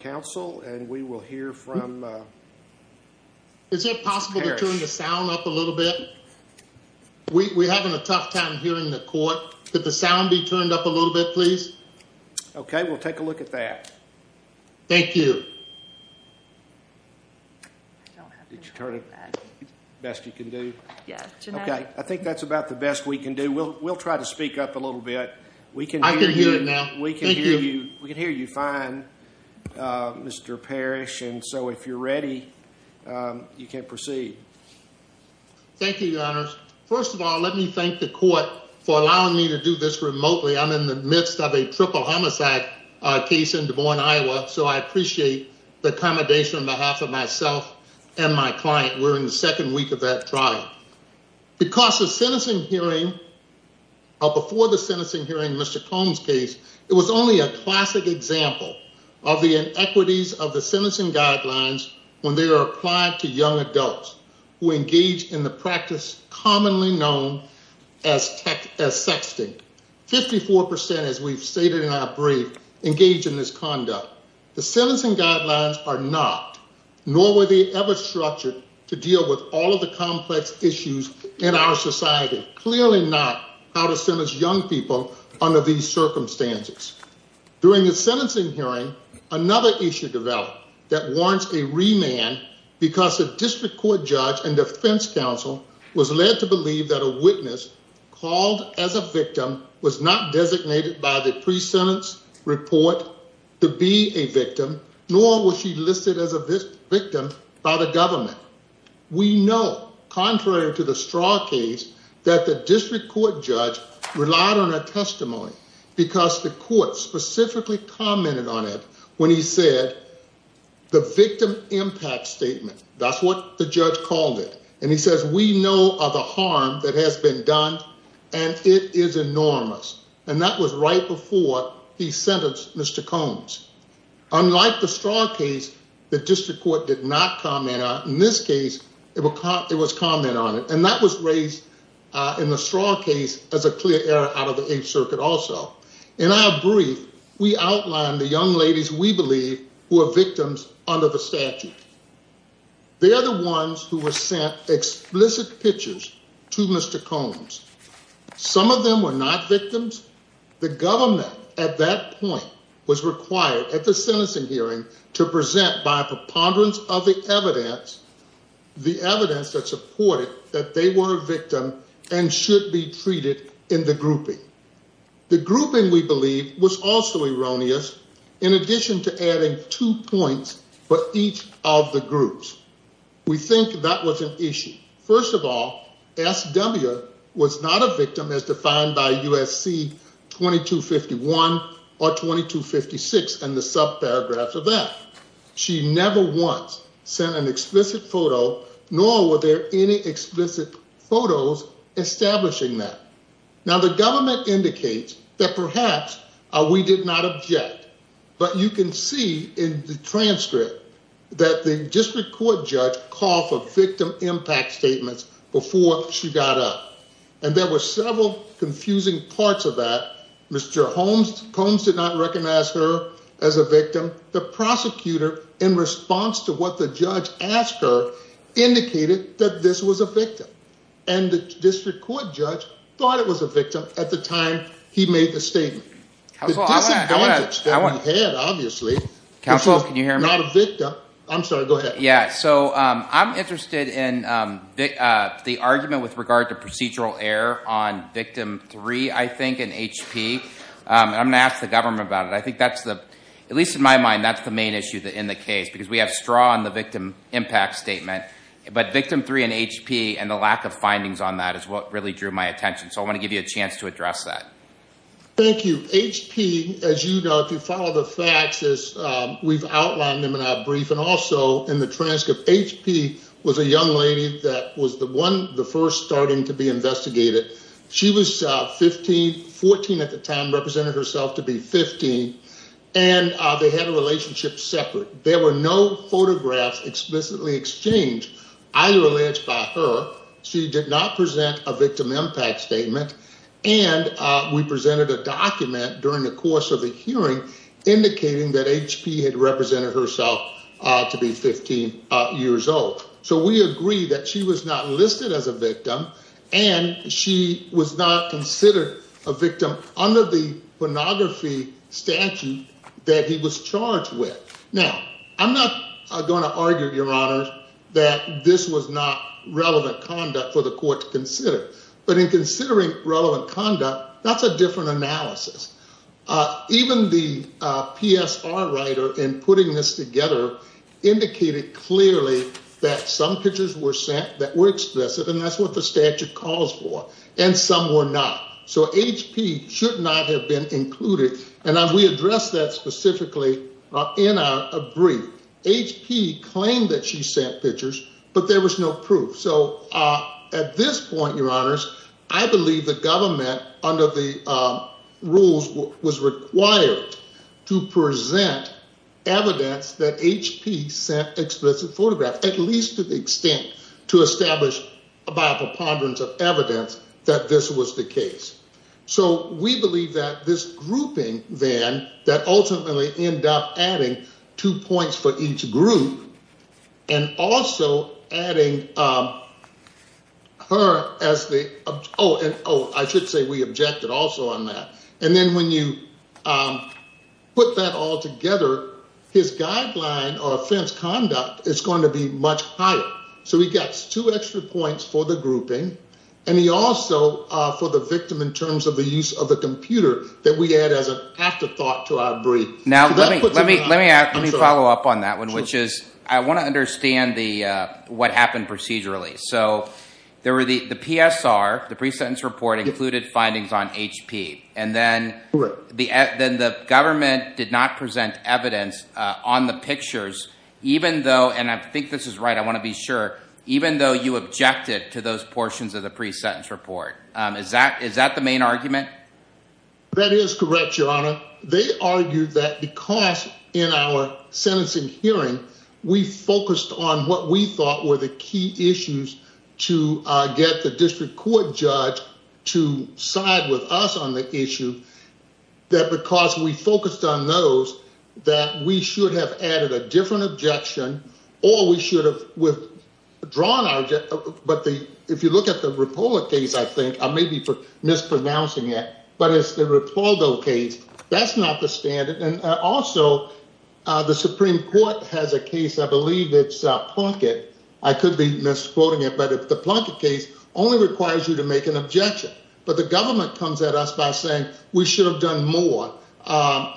Council, and we will hear from, uh, is it possible to turn the sound up a little bit? We, we're having a tough time hearing the court. Could the sound be turned up a little bit, please? Okay. We'll take a look at that. Thank you. Did you turn it best you can do? Yeah. Okay. I think that's about the best we can do. We'll, we'll try to speak up a little bit. We can hear you now. We can hear you. We can hear you fine. Mr. Parrish. And so if you're ready, um, you can proceed. Thank you, your honors. First of all, let me thank the court for allowing me to do this remotely. I'm in the midst of a triple homicide case in Des Moines, Iowa. So I appreciate the accommodation on behalf of myself and my client. We're in the second week of that trial because the sentencing hearing, uh, before the sentencing hearing, Mr. Combs case, it was only a classic example of the inequities of the sentencing guidelines when they are applied to young adults who engage in the practice commonly known as tech as sexting. 54%, as we've stated in our brief, engage in this conduct. The sentencing guidelines are not, nor were they ever structured to deal with all of the complex issues in our society. Clearly not how to send us young people under these circumstances. During the sentencing hearing, another issue developed that warrants a remand because of district court judge and defense counsel was led to believe that a witness called as a victim was not designated by the pre-sentence report to be a victim, nor was she listed as a victim by the government. We know contrary to the court judge relied on a testimony because the court specifically commented on it. When he said the victim impact statement, that's what the judge called it. And he says, we know of a harm that has been done and it is enormous. And that was right before he sentenced Mr. Combs. Unlike the strong case that district court did not comment on in this case, it was caught. It was as a clear error out of the age circuit. Also in our brief, we outlined the young ladies. We believe who are victims under the statute. They are the ones who were sent explicit pictures to Mr. Combs. Some of them were not victims. The government at that point was required at the sentencing hearing to present by preponderance of the evidence, the evidence that supported that they were a victim and should be treated in the grouping. The grouping we believe was also erroneous in addition to adding two points for each of the groups. We think that was an issue. First of all, SW was not a victim as defined by USC 2251 or 2256 and the sub paragraphs of that. She never once sent an explicit photo establishing that. Now the government indicates that perhaps we did not object, but you can see in the transcript that the district court judge called for victim impact statements before she got up. And there were several confusing parts of that. Mr. Combs did not recognize her as a victim. The prosecutor in response to what the judge asked her indicated that this was a victim. And the district court judge thought it was a victim at the time he made the statement. Counsel, can you hear me? Not a victim. I'm sorry, go ahead. Yeah, so I'm interested in the argument with regard to procedural error on victim three, I think in HP. I'm going to ask the government about it. I think that's the, at least in my mind, that's the main issue in the lack of findings on that is what really drew my attention. So I want to give you a chance to address that. Thank you. HP, as you know, if you follow the facts as we've outlined them in our brief and also in the transcript, HP was a young lady that was the one, the first starting to be investigated. She was 15, 14 at the time, represented herself to be 15. And they had a relationship separate. There were no photographs explicitly exchanged either alleged by her. She did not present a victim impact statement. And we presented a document during the course of the hearing indicating that HP had represented herself to be 15 years old. So we agree that she was not listed as a victim and she was not considered a victim under the pornography statute that he was charged with. Now, I'm not going to argue, your honor, that this was not relevant conduct for the court to consider, but in considering relevant conduct, that's a different analysis. Even the PSR writer in putting this together indicated clearly that some pictures were sent that were explicit, and that's what the statute calls for. And some were not. So HP should not have been included. And as we address that specifically in our brief, HP claimed that she sent pictures, but there was no proof. So at this point, your honors, I believe the government under the rules was required to present evidence that HP sent explicit photographs, at least to the extent to establish a Bible ponderance of evidence that this was the case. So we believe that this grouping then, that ultimately ended up adding two points for each group and also adding her as the, oh, and oh, I should say we objected also on that. And then when you put that all together, he gets two extra points for the grouping and he also, for the victim in terms of the use of the computer that we add as an afterthought to our brief. Now, let me follow up on that one, which is I want to understand what happened procedurally. So there were the PSR, the pre-sentence report included findings on HP, and then the government did not present evidence on the pictures, even though, and I think this is right, I want to be sure, even though you objected to those portions of the pre-sentence report, is that the main argument? That is correct, your honor. They argued that because in our sentencing hearing, we focused on what we thought were the key issues to get the district court judge to side with us on the issue, that because we focused on those, that we should have added a different objection or we should have withdrawn our, but if you look at the Rapolo case, I think, I may be mispronouncing it, but it's the Rapolo case, that's not the standard. And also the Supreme Court has a case, I believe it's Plunkett, I could be misquoting it, but the Plunkett case only requires you to make an objection. But the government comes at us by saying we should have done more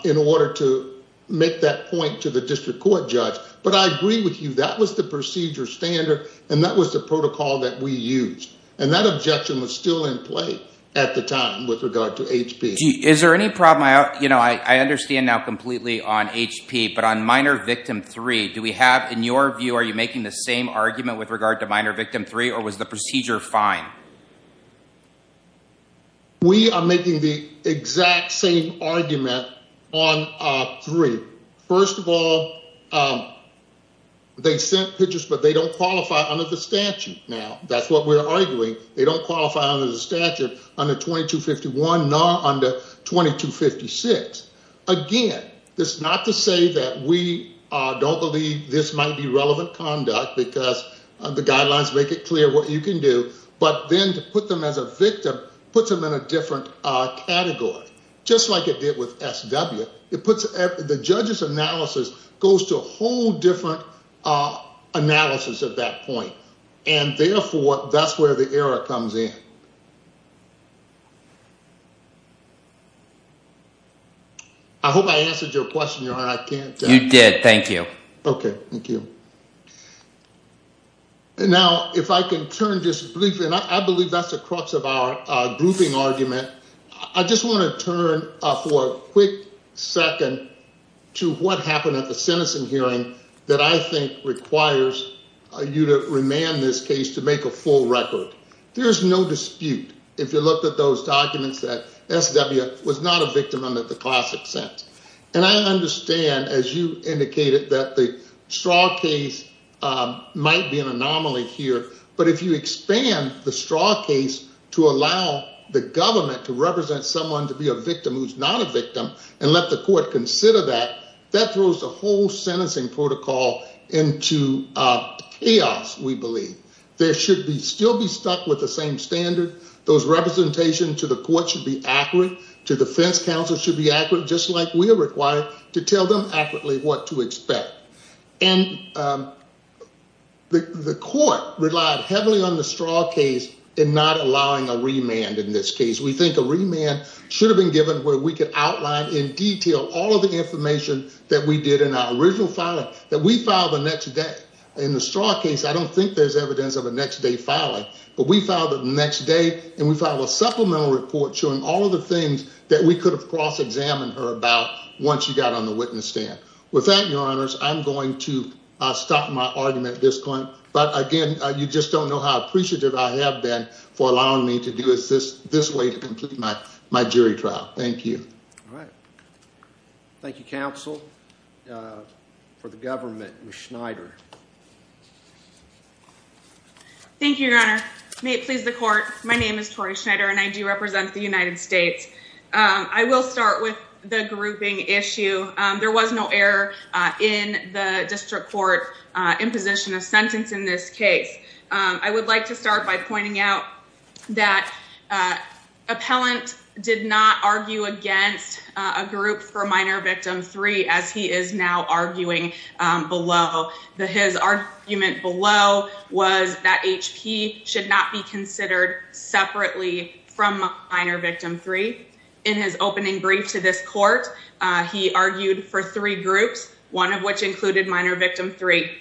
in order to make that point to the district court judge. But I agree with you, that was the procedure standard and that was the protocol that we used. And that objection was still in play at the time with regard to HP. Is there any problem, you know, I understand now completely on HP, but on minor victim 3, do we have, in your view, are you making the same argument with regard to minor victim 3 or was the procedure fine? We are making the exact same argument on 3. First of all, they sent pictures, but they don't qualify under the statute now. That's what we're arguing. They don't qualify under the statute under 2251, not under 2256. Again, that's not to say that we don't believe this might be relevant conduct, because the guidelines make it clear what you can do, but then to put them as a victim puts them in a different category, just like it did with SW. The judge's analysis goes to a whole different analysis at that point, and therefore that's where the error comes in. I hope I answered your question, your honor. I can't. You did, thank you. Okay, thank you. Now, if I can turn just briefly, and I believe that's the crux of our grouping argument, I just want to turn for a quick second to what happened at the sentencing hearing that I think requires you to remand this case to make a full record. There's no dispute if you looked at those documents that SW was not a victim under the classic sentence, and I understand as you indicated that the Straw case might be an anomaly here, but if you expand the Straw case to allow the government to represent someone to be a victim who's not a victim and let the court consider that, that throws the whole sentencing protocol into chaos, we believe. There should still be stuck with the same standard. Those representations to the court should be accurate, to defense counsel should be accurate, just like we are required to tell them accurately what to expect, and the court relied heavily on the Straw case in not allowing a remand in this case. We think a remand should have been given where we could outline in detail all of the information that we did in our original filing that we filed the next day. In the Straw case, I don't think there's evidence of a next day filing, but we filed it the next day, and we filed a supplemental report showing all of the things that we could have cross-examined her about once she got on the witness stand. With that, your honors, I'm going to stop my argument at this point, but again, you just don't know how appreciative I have been for allowing me to do this way to complete my jury trial. Thank you. All right. Thank you, counsel. For the government, Ms. Schneider. Thank you, your honor. May it please the court, my name is Tori Schneider, and I do represent the United States. I will start with the grouping issue. There was no error in the district court imposition of sentence in this case. I would like to start by pointing out that appellant did not argue that HP should not be considered separately from minor victim three. In his opening brief to this court, he argued for three groups, one of which included minor victim three.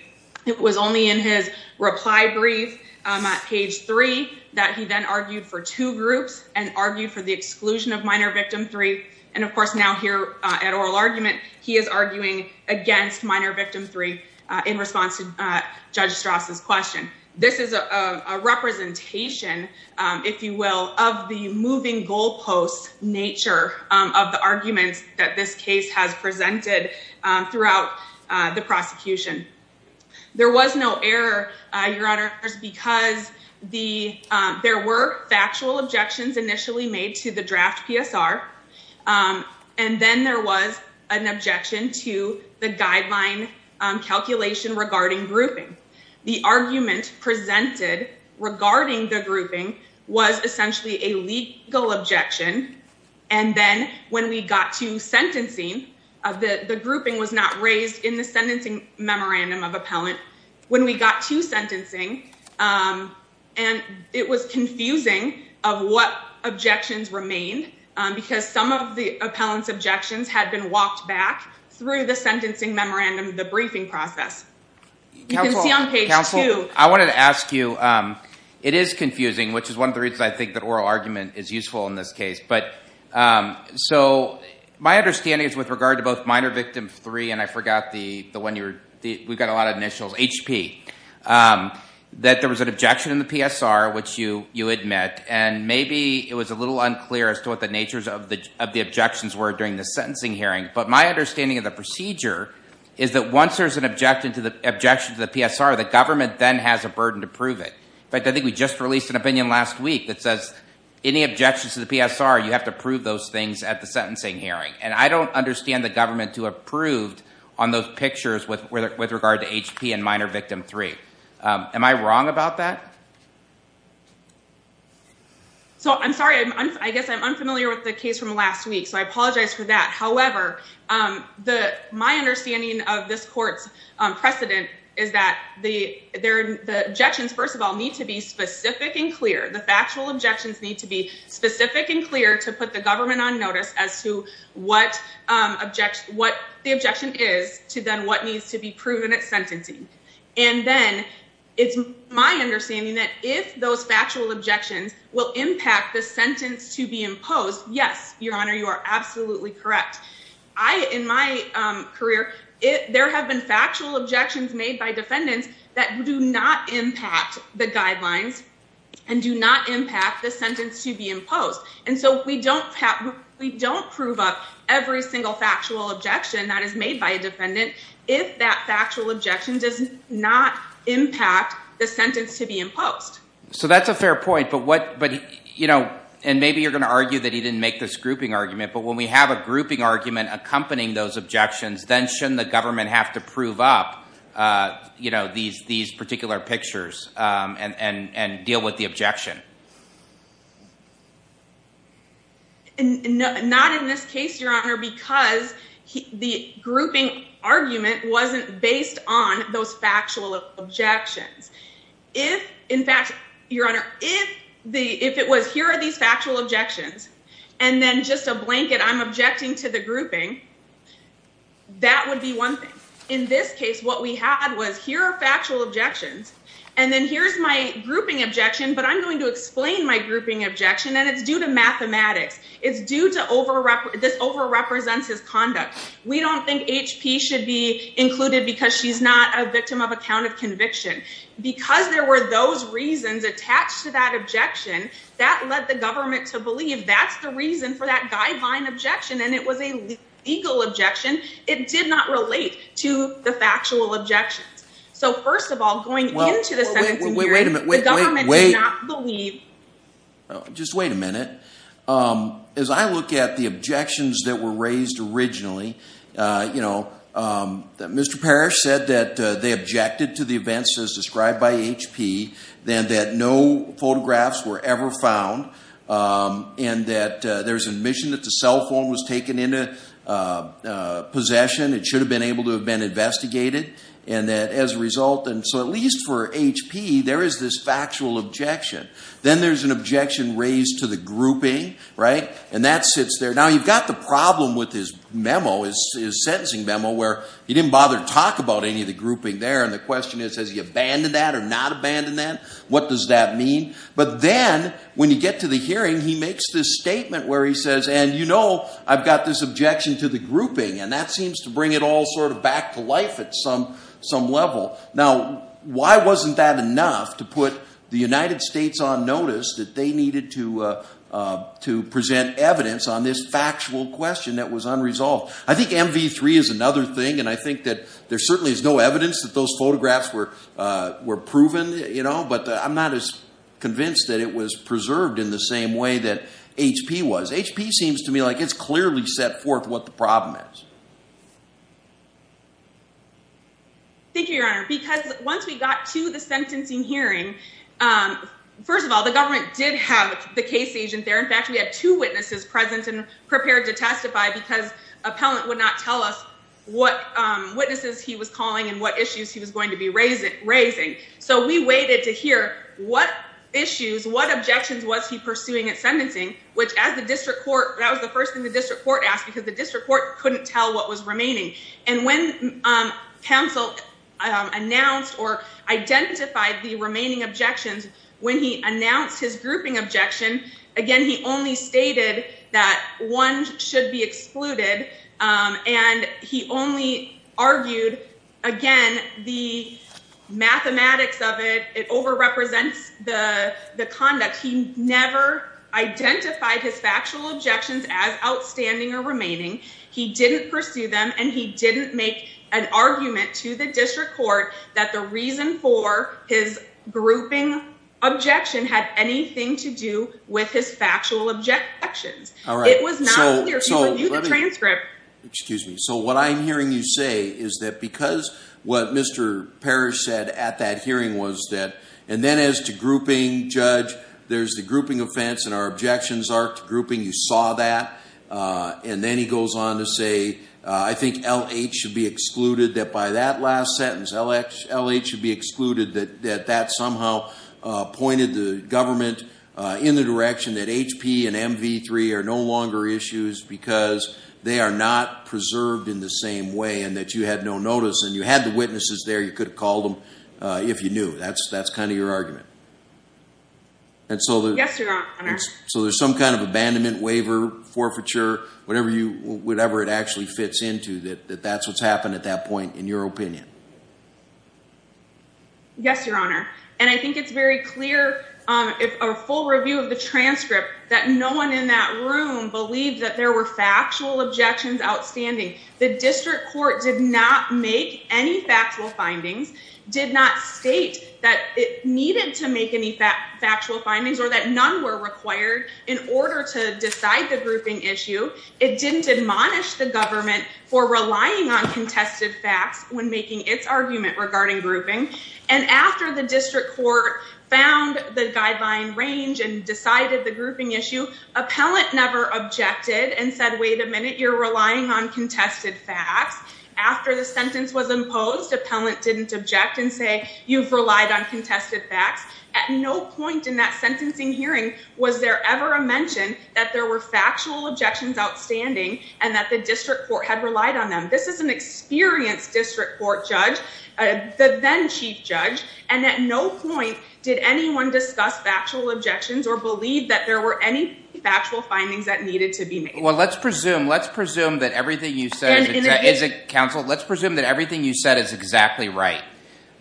It was only in his reply brief at page three that he then argued for two groups and argued for the exclusion of minor victim three. And of course, now here at oral argument, he is arguing against minor victim three in response to judge Strauss' question. This is a representation, if you will, of the moving goalposts nature of the arguments that this case has presented throughout the prosecution. There was no error, your honors, because there were factual objections initially made to the draft PSR. And then there was an objection to the guideline calculation regarding grouping. The argument presented regarding the grouping was essentially a legal objection. And then when we got to sentencing, the grouping was not raised in the sentencing memorandum of appellant. When we got to sentencing, and it was confusing of what objections remained because some of the appellant's objections had been walked back through the sentencing memorandum, the briefing process. I wanted to ask you, it is confusing, which is one of the reasons I think that oral argument is useful in this case. But so my understanding is with regard to both minor victim three, I forgot the one, we got a lot of initials, HP, that there was an objection in the PSR, which you admit. And maybe it was a little unclear as to what the natures of the objections were during the sentencing hearing. But my understanding of the procedure is that once there is an objection to the PSR, the government then has a burden to prove it. In fact, I think we just released an opinion last week that says any objections to the PSR, you have to prove those things at the sentencing hearing. And I don't understand the government to have proved on those pictures with regard to HP and minor victim three. Am I wrong about that? So, I'm sorry. I guess I'm unfamiliar with the case from last week. So I apologize for that. However, my understanding of this court's precedent is that the objections, first of all, need to be specific and clear. The factual objections need to be specific and clear to the government on notice as to what the objection is to then what needs to be proven at sentencing. And then it's my understanding that if those factual objections will impact the sentence to be imposed, yes, Your Honor, you are absolutely correct. In my career, there have been factual objections made by defendants that do not impact the guidelines and do not impact the sentence to be imposed. And so we don't prove up every single factual objection that is made by a defendant if that factual objection does not impact the sentence to be imposed. So that's a fair point. And maybe you're going to argue that he didn't make this grouping argument, but when we have a grouping argument accompanying those objections, then shouldn't the government have to prove up these particular pictures and deal with the objection? Not in this case, Your Honor, because the grouping argument wasn't based on those factual objections. If, in fact, Your Honor, if it was here are these factual objections and then just a blanket, I'm objecting to the grouping, that would be one thing. In this case, what we had was here are factual objections and then here's my grouping objection, but I'm going to explain my grouping objection. And it's due to mathematics. It's due to this over-represents his conduct. We don't think H.P. should be included because she's not a victim of a count of conviction. Because there were those reasons attached to that objection, that led the government to believe that's the reason for that guideline objection. And it was a legal objection. It did not relate to the factual objections. So, first of all, going into the second demerit, the government did not believe... Just wait a minute. As I look at the objections that were raised originally, you know, that Mr. Parrish said that they objected to the events as described by H.P., then that no photographs were ever found, and that there's admission that the cell phone was taken into possession. It should have been able to have been investigated, and that as a result... And so at least for H.P., there is this factual objection. Then there's an objection raised to the grouping, right? And that sits there. Now, you've got the problem with his memo, his sentencing memo, where he didn't bother to talk about any of the grouping there. And the question is, has he abandoned that or not abandoned that? What does that mean? But then, when you get to the hearing, he makes this objection to the grouping, and that seems to bring it all sort of back to life at some level. Now, why wasn't that enough to put the United States on notice that they needed to present evidence on this factual question that was unresolved? I think MV3 is another thing, and I think that there certainly is no evidence that those photographs were proven, you know? But I'm not as convinced that it was preserved in the same way that H.P. was. H.P. seems to me like it's clearly set forth what the problem is. Thank you, Your Honor. Because once we got to the sentencing hearing, first of all, the government did have the case agent there. In fact, we had two witnesses present and prepared to testify because appellant would not tell us what witnesses he was calling and what issues he was going to be raising. So we waited to hear what issues, what objections was he pursuing at sentencing, which as the district court, that was the first thing the district court asked because the district court couldn't tell what was remaining. And when counsel announced or identified the remaining objections, when he announced his grouping objection, again, he only stated that one should be excluded, and he only argued, again, the mathematics of it, it overrepresents the conduct. He never identified his factual objections as outstanding or remaining. He didn't pursue them, and he didn't make an argument to the district court that the reason for his grouping objection had anything to do with his factual objections. It was not clear to you in the transcript. Excuse me. So what I'm hearing you say is that because what Mr. Parrish said at that hearing was that, and then as to grouping, Judge, there's the grouping offense and our objections are to grouping. You saw that. And then he goes on to say, I think LH should be excluded, that by that last sentence, LH should be excluded, that that somehow pointed the government in the direction that HP and MV3 are no longer issues because they are not preserved in the same way and that you had no notice and you had the witnesses there. You could have called them if you knew. That's kind of your argument. Yes, Your Honor. And so there's some kind of abandonment, waiver, forfeiture, whatever it actually fits into that that's what's happened at that point in your opinion. Yes, Your Honor. And I think it's very clear if our full review of the transcript that no one in that room believed that there were factual objections outstanding. The district court did not make any factual findings, did not state that it needed to make any factual findings or that none were required in order to decide the grouping issue. It didn't admonish the government for relying on contested facts when making its argument regarding grouping. And after the district court found the guideline range and decided the grouping issue, appellant never objected and said, wait a minute, you're relying on contested facts. After the sentence was imposed, appellant didn't object and say you've relied on contested facts. At no point in that sentencing hearing was there ever a mention that there were factual objections outstanding and that the district court had relied on them. This is an experienced district court judge, the then chief judge, and at no point did anyone discuss factual objections or believe that there were any factual findings that needed to be made. Well, let's presume that everything you said is exactly right.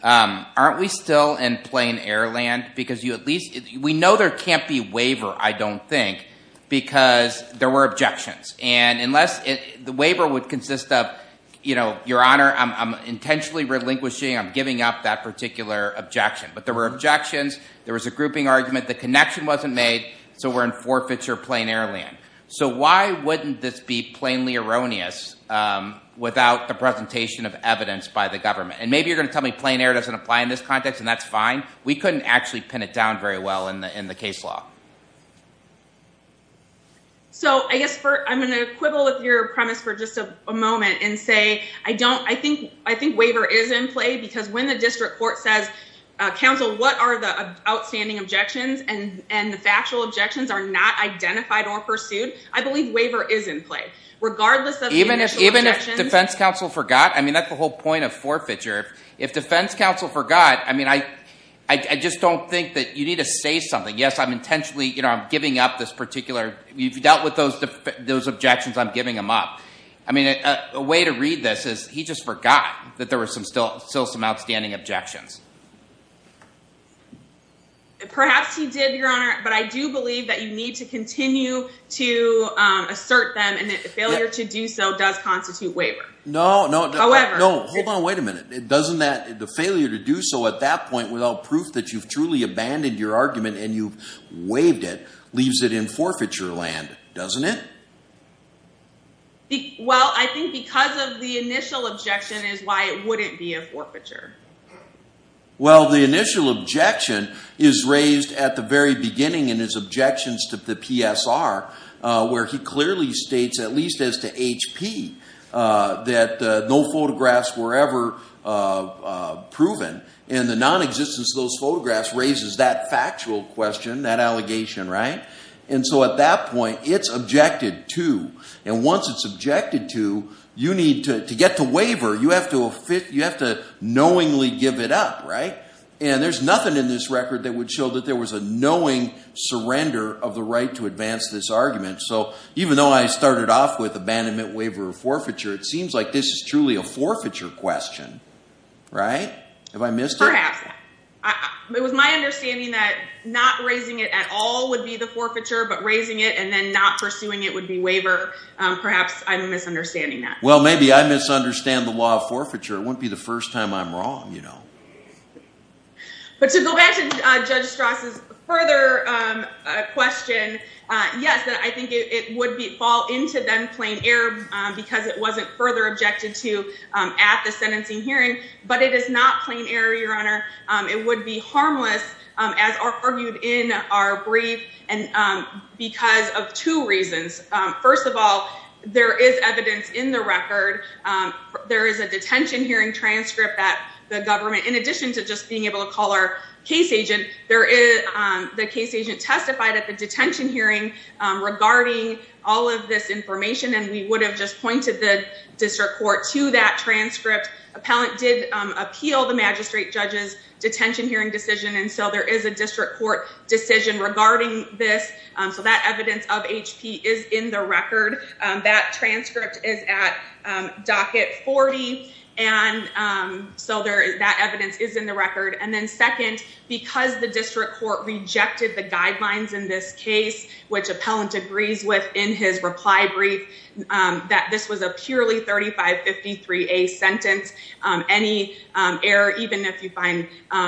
Aren't we still in plain air land? Because we know there can't be waiver, I don't think, because there were objections. And the waiver would consist of, Your Honor, I'm intentionally relinquishing, I'm giving up that particular objection. But there were objections, there was a grouping argument, the connection wasn't made, so we're in forfeiture plain air land. So why wouldn't this be plainly erroneous without the presentation of evidence by the government? And maybe you're going to tell me plain air doesn't apply in this context, and that's fine. We couldn't actually pin it down very well in the case law. So I guess I'm going to quibble with your premise for just a moment and say I think waiver is in play. If the district court says, counsel, what are the outstanding objections and the factual objections are not identified or pursued, I believe waiver is in play. Regardless of the initial objections. Even if defense counsel forgot, I mean, that's the whole point of forfeiture. If defense counsel forgot, I mean, I just don't think that you need to say something. Yes, I'm intentionally, you know, I'm giving up this particular, you've dealt with those objections, I'm giving them up. I mean, a way to read this is he just forgot that there were still some outstanding objections. Perhaps he did, Your Honor, but I do believe that you need to continue to assert them and that failure to do so does constitute waiver. No, no, no, no. Hold on, wait a minute. Doesn't that, the failure to do so at that point without proof that you've truly abandoned your argument and you've waived it leaves it in forfeiture land, doesn't it? Well, I think because of the initial objection is why it wouldn't be a forfeiture. Well, the initial objection is raised at the very beginning in his objections to the PSR where he clearly states, at least as to HP, that no photographs were ever proven and the non-existence of those photographs raises that factual question, that allegation, right? And so at that point, it's objected to, and once it's objected to, you need to, to get to waiver, you have to fit, you have to knowingly give it up, right? And there's nothing in this record that would show that there was a knowing surrender of the right to advance this argument. So even though I started off with abandonment, waiver, or forfeiture, it seems like this is truly a forfeiture question, right? Have I missed it? Perhaps. It was my understanding that not raising it at all would be the forfeiture, but raising it and then not pursuing it would be waiver. Perhaps I'm misunderstanding that. Well, maybe I misunderstand the law of forfeiture. It wouldn't be the first time I'm wrong, you know. But to go back to Judge Strauss' further question, yes, I think it would fall into then plain error because it wasn't further objected to at the sentencing hearing, but it is not plain error, Your Honor. It would be harmless as argued in our brief and because of two reasons. First of all, there is evidence in the record. There is a detention hearing transcript that the government, in addition to just being able to call our case agent, the case agent testified at the detention hearing regarding all of this information and we would have just pointed the district court to that transcript. Appellant did appeal the district court decision regarding this. So that evidence of HP is in the record. That transcript is at docket 40. And so that evidence is in the record. And then second, because the district court rejected the guidelines in this case, which appellant agrees with in his reply brief, that this was a purely 3553A sentence. Any error, even if you find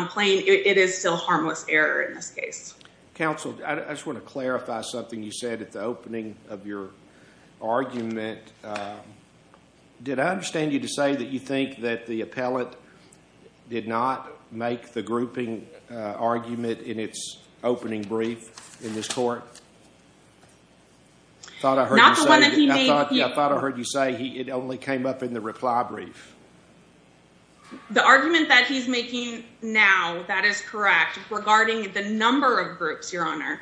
plain, it is still harmless error in this case. Counsel, I just want to clarify something you said at the opening of your argument. Did I understand you to say that you think that the appellant did not make the grouping argument in its opening brief in this court? I thought I heard you say it only came up in the reply brief. The argument that he's making now, that is correct, regarding the number of groups, your honor.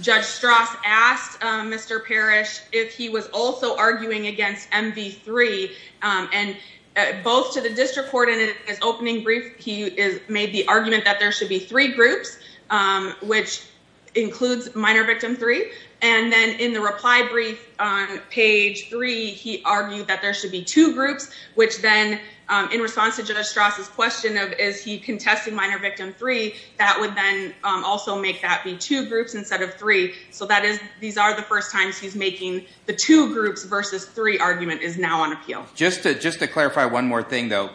Judge Strauss asked Mr. Parrish if he was also arguing against MV3 and both to the district court in his opening brief, he made the argument that there should be three groups, which includes minor victim three. And then in the reply brief on page three, he argued that there should be two groups, which then in response to Judge Strauss' question of, is he contesting minor victim three, that would then also make that be two groups instead of three. So these are the first times he's making the two groups versus three argument is now on appeal. Just to clarify one more thing though,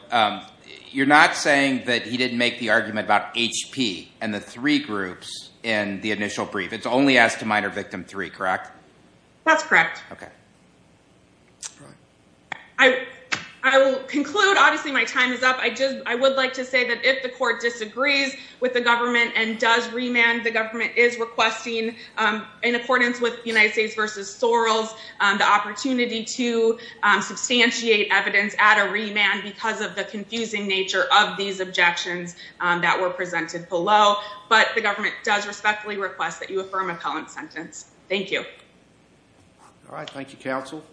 you're not saying that he didn't make the argument about HP and the three groups in the initial brief. It's only as to minor victim three, correct? That's correct. I will conclude, obviously my time is up. I would like to say that if the court disagrees with the government and does remand, the government is requesting in accordance with United States versus Soros, the opportunity to substantiate evidence at a remand because of the confusing nature of these objections that were presented below. But the government does respectfully request that you affirm appellant sentence. Thank you. All right. Thank you, counsel.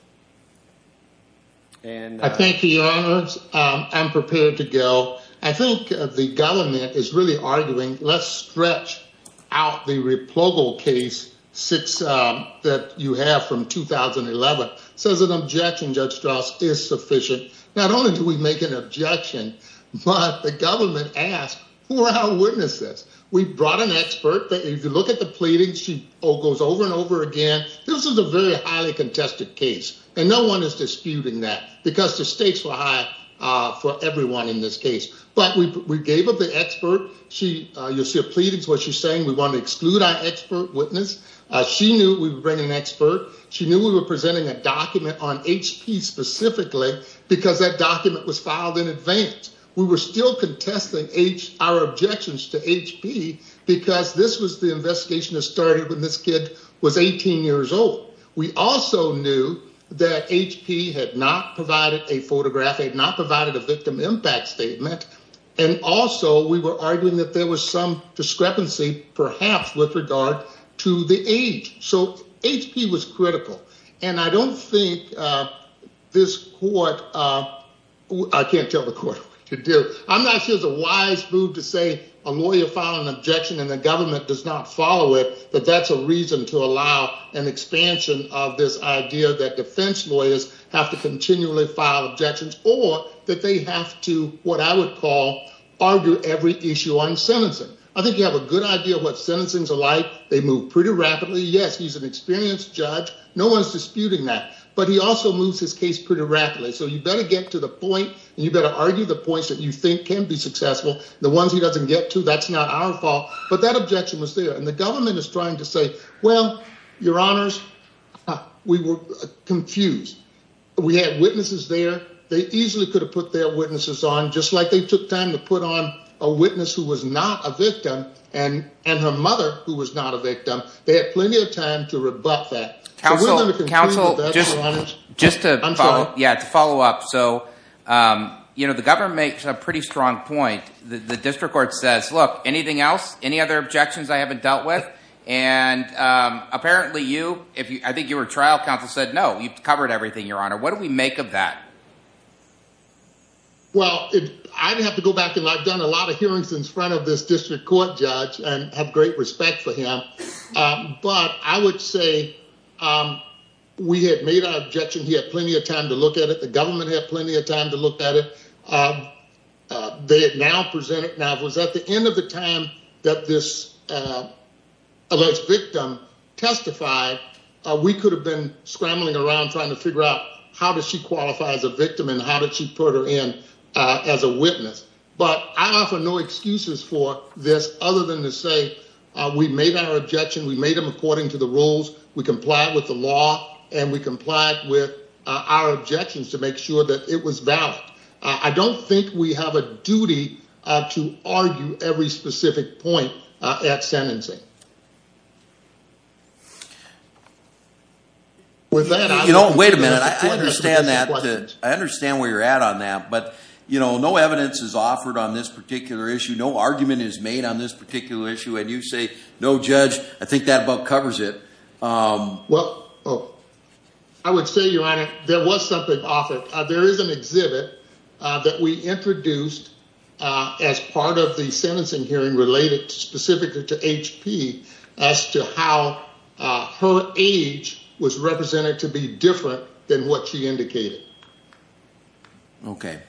I thank you, your honors. I'm prepared to go. I think the government is really arguing, let's stretch out the replogal case that you have from 2011. So as an objection, Judge Strauss is sufficient. Not only do we make an objection, but the government asked, who are our witnesses? We brought an expert that if you look at the pleading, she goes over and over again. This is a very highly contested case and no one is disputing that because the stakes were high for everyone in this case. But we gave up the expert. You'll see a pleading, what she's saying, we want to exclude our expert witness. She knew we would bring an expert. She knew we were presenting a document on HP specifically because that document was filed in advance. We were still contesting our objections to HP because this was the investigation that started when this kid was 18 years old. We also knew that HP had not provided a photograph. They had not provided a victim impact statement. And also we were arguing that there was some discrepancy, perhaps, with regard to the age. So HP was critical. And I don't think this court, I can't tell the court what to do. I'm not sure it's a wise move to say a lawyer filed an objection and the government does not follow it, but that's a reason to allow an expansion of this idea that defense lawyers have to continually file objections or that they have to, what I would call, argue every issue on sentencing. I think you have a good idea of what sentencings are like. They move pretty rapidly. Yes, he's an experienced judge. No one's disputing that. But he also moves his case pretty rapidly. So you better get to the point and you better argue the points that you think can be successful. The ones he doesn't get to, that's not our fault. But that objection was there. And the government is trying to say, well, your honors, we were confused. We had witnesses there. They easily could have put their witnesses on, just like they took time to put on a witness who was not a victim and her mother who was not a victim. They had plenty of time to rebut that. Just to follow up. So the government makes a pretty strong point. The district court says, look, anything else, any other objections I haven't dealt with? And apparently you, I think you were trial counsel, said, no, you've covered everything, your honor. What do we make of that? Well, I didn't have to go back and I've done a lot of hearings in front of this district court judge and have great respect for him. But I would say we had made our objection. He had plenty of time to look at it. The government had plenty of time to look at it. They had now presented. Now, if it was at the end of the time that this alleged victim testified, we could have been scrambling around trying to figure out how does she qualify as a victim and how did she put her in as a witness. But I offer no excuses for this other than to say we made our objection. We made them according to the rules. We comply with the law and we comply with our objections to make sure that it was valid. I don't think we have a duty to argue every specific point at sentencing. With that, you know, wait a minute. I understand that. I understand where you're at on that, but you know, no evidence is offered on this particular issue. No argument is made on this particular issue. And you say, no judge, I think that about covers it. Well, I would say your honor, there was something offered. There is an exhibit that we introduced as part of the sentencing hearing related specifically to H.P. as to how her age was represented to be different than what she indicated. Okay.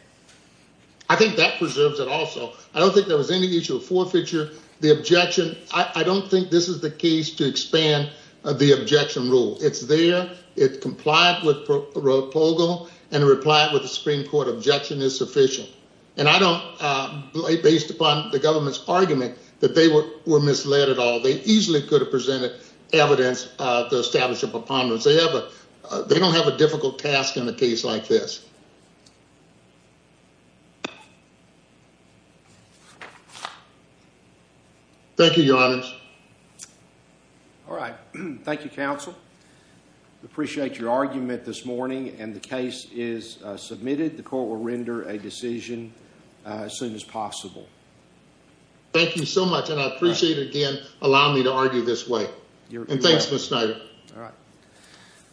I think that preserves it also. I don't think there was any issue of forfeiture. The objection, I don't think this is the case to expand the objection rule. It's there. It complied with Rogel and replied with the Supreme Court objection is sufficient. And I don't, based upon the government's argument that they were misled at all. They easily could have presented evidence to establish a preponderance. They have a, they don't have a difficult task in a case like this. Thank you, your honor. All right. Thank you, counsel. Appreciate your argument this morning and the case is submitted. The court will render a decision as soon as possible. Thank you so much. And I appreciate it again. Allow me to argue this way. And thanks.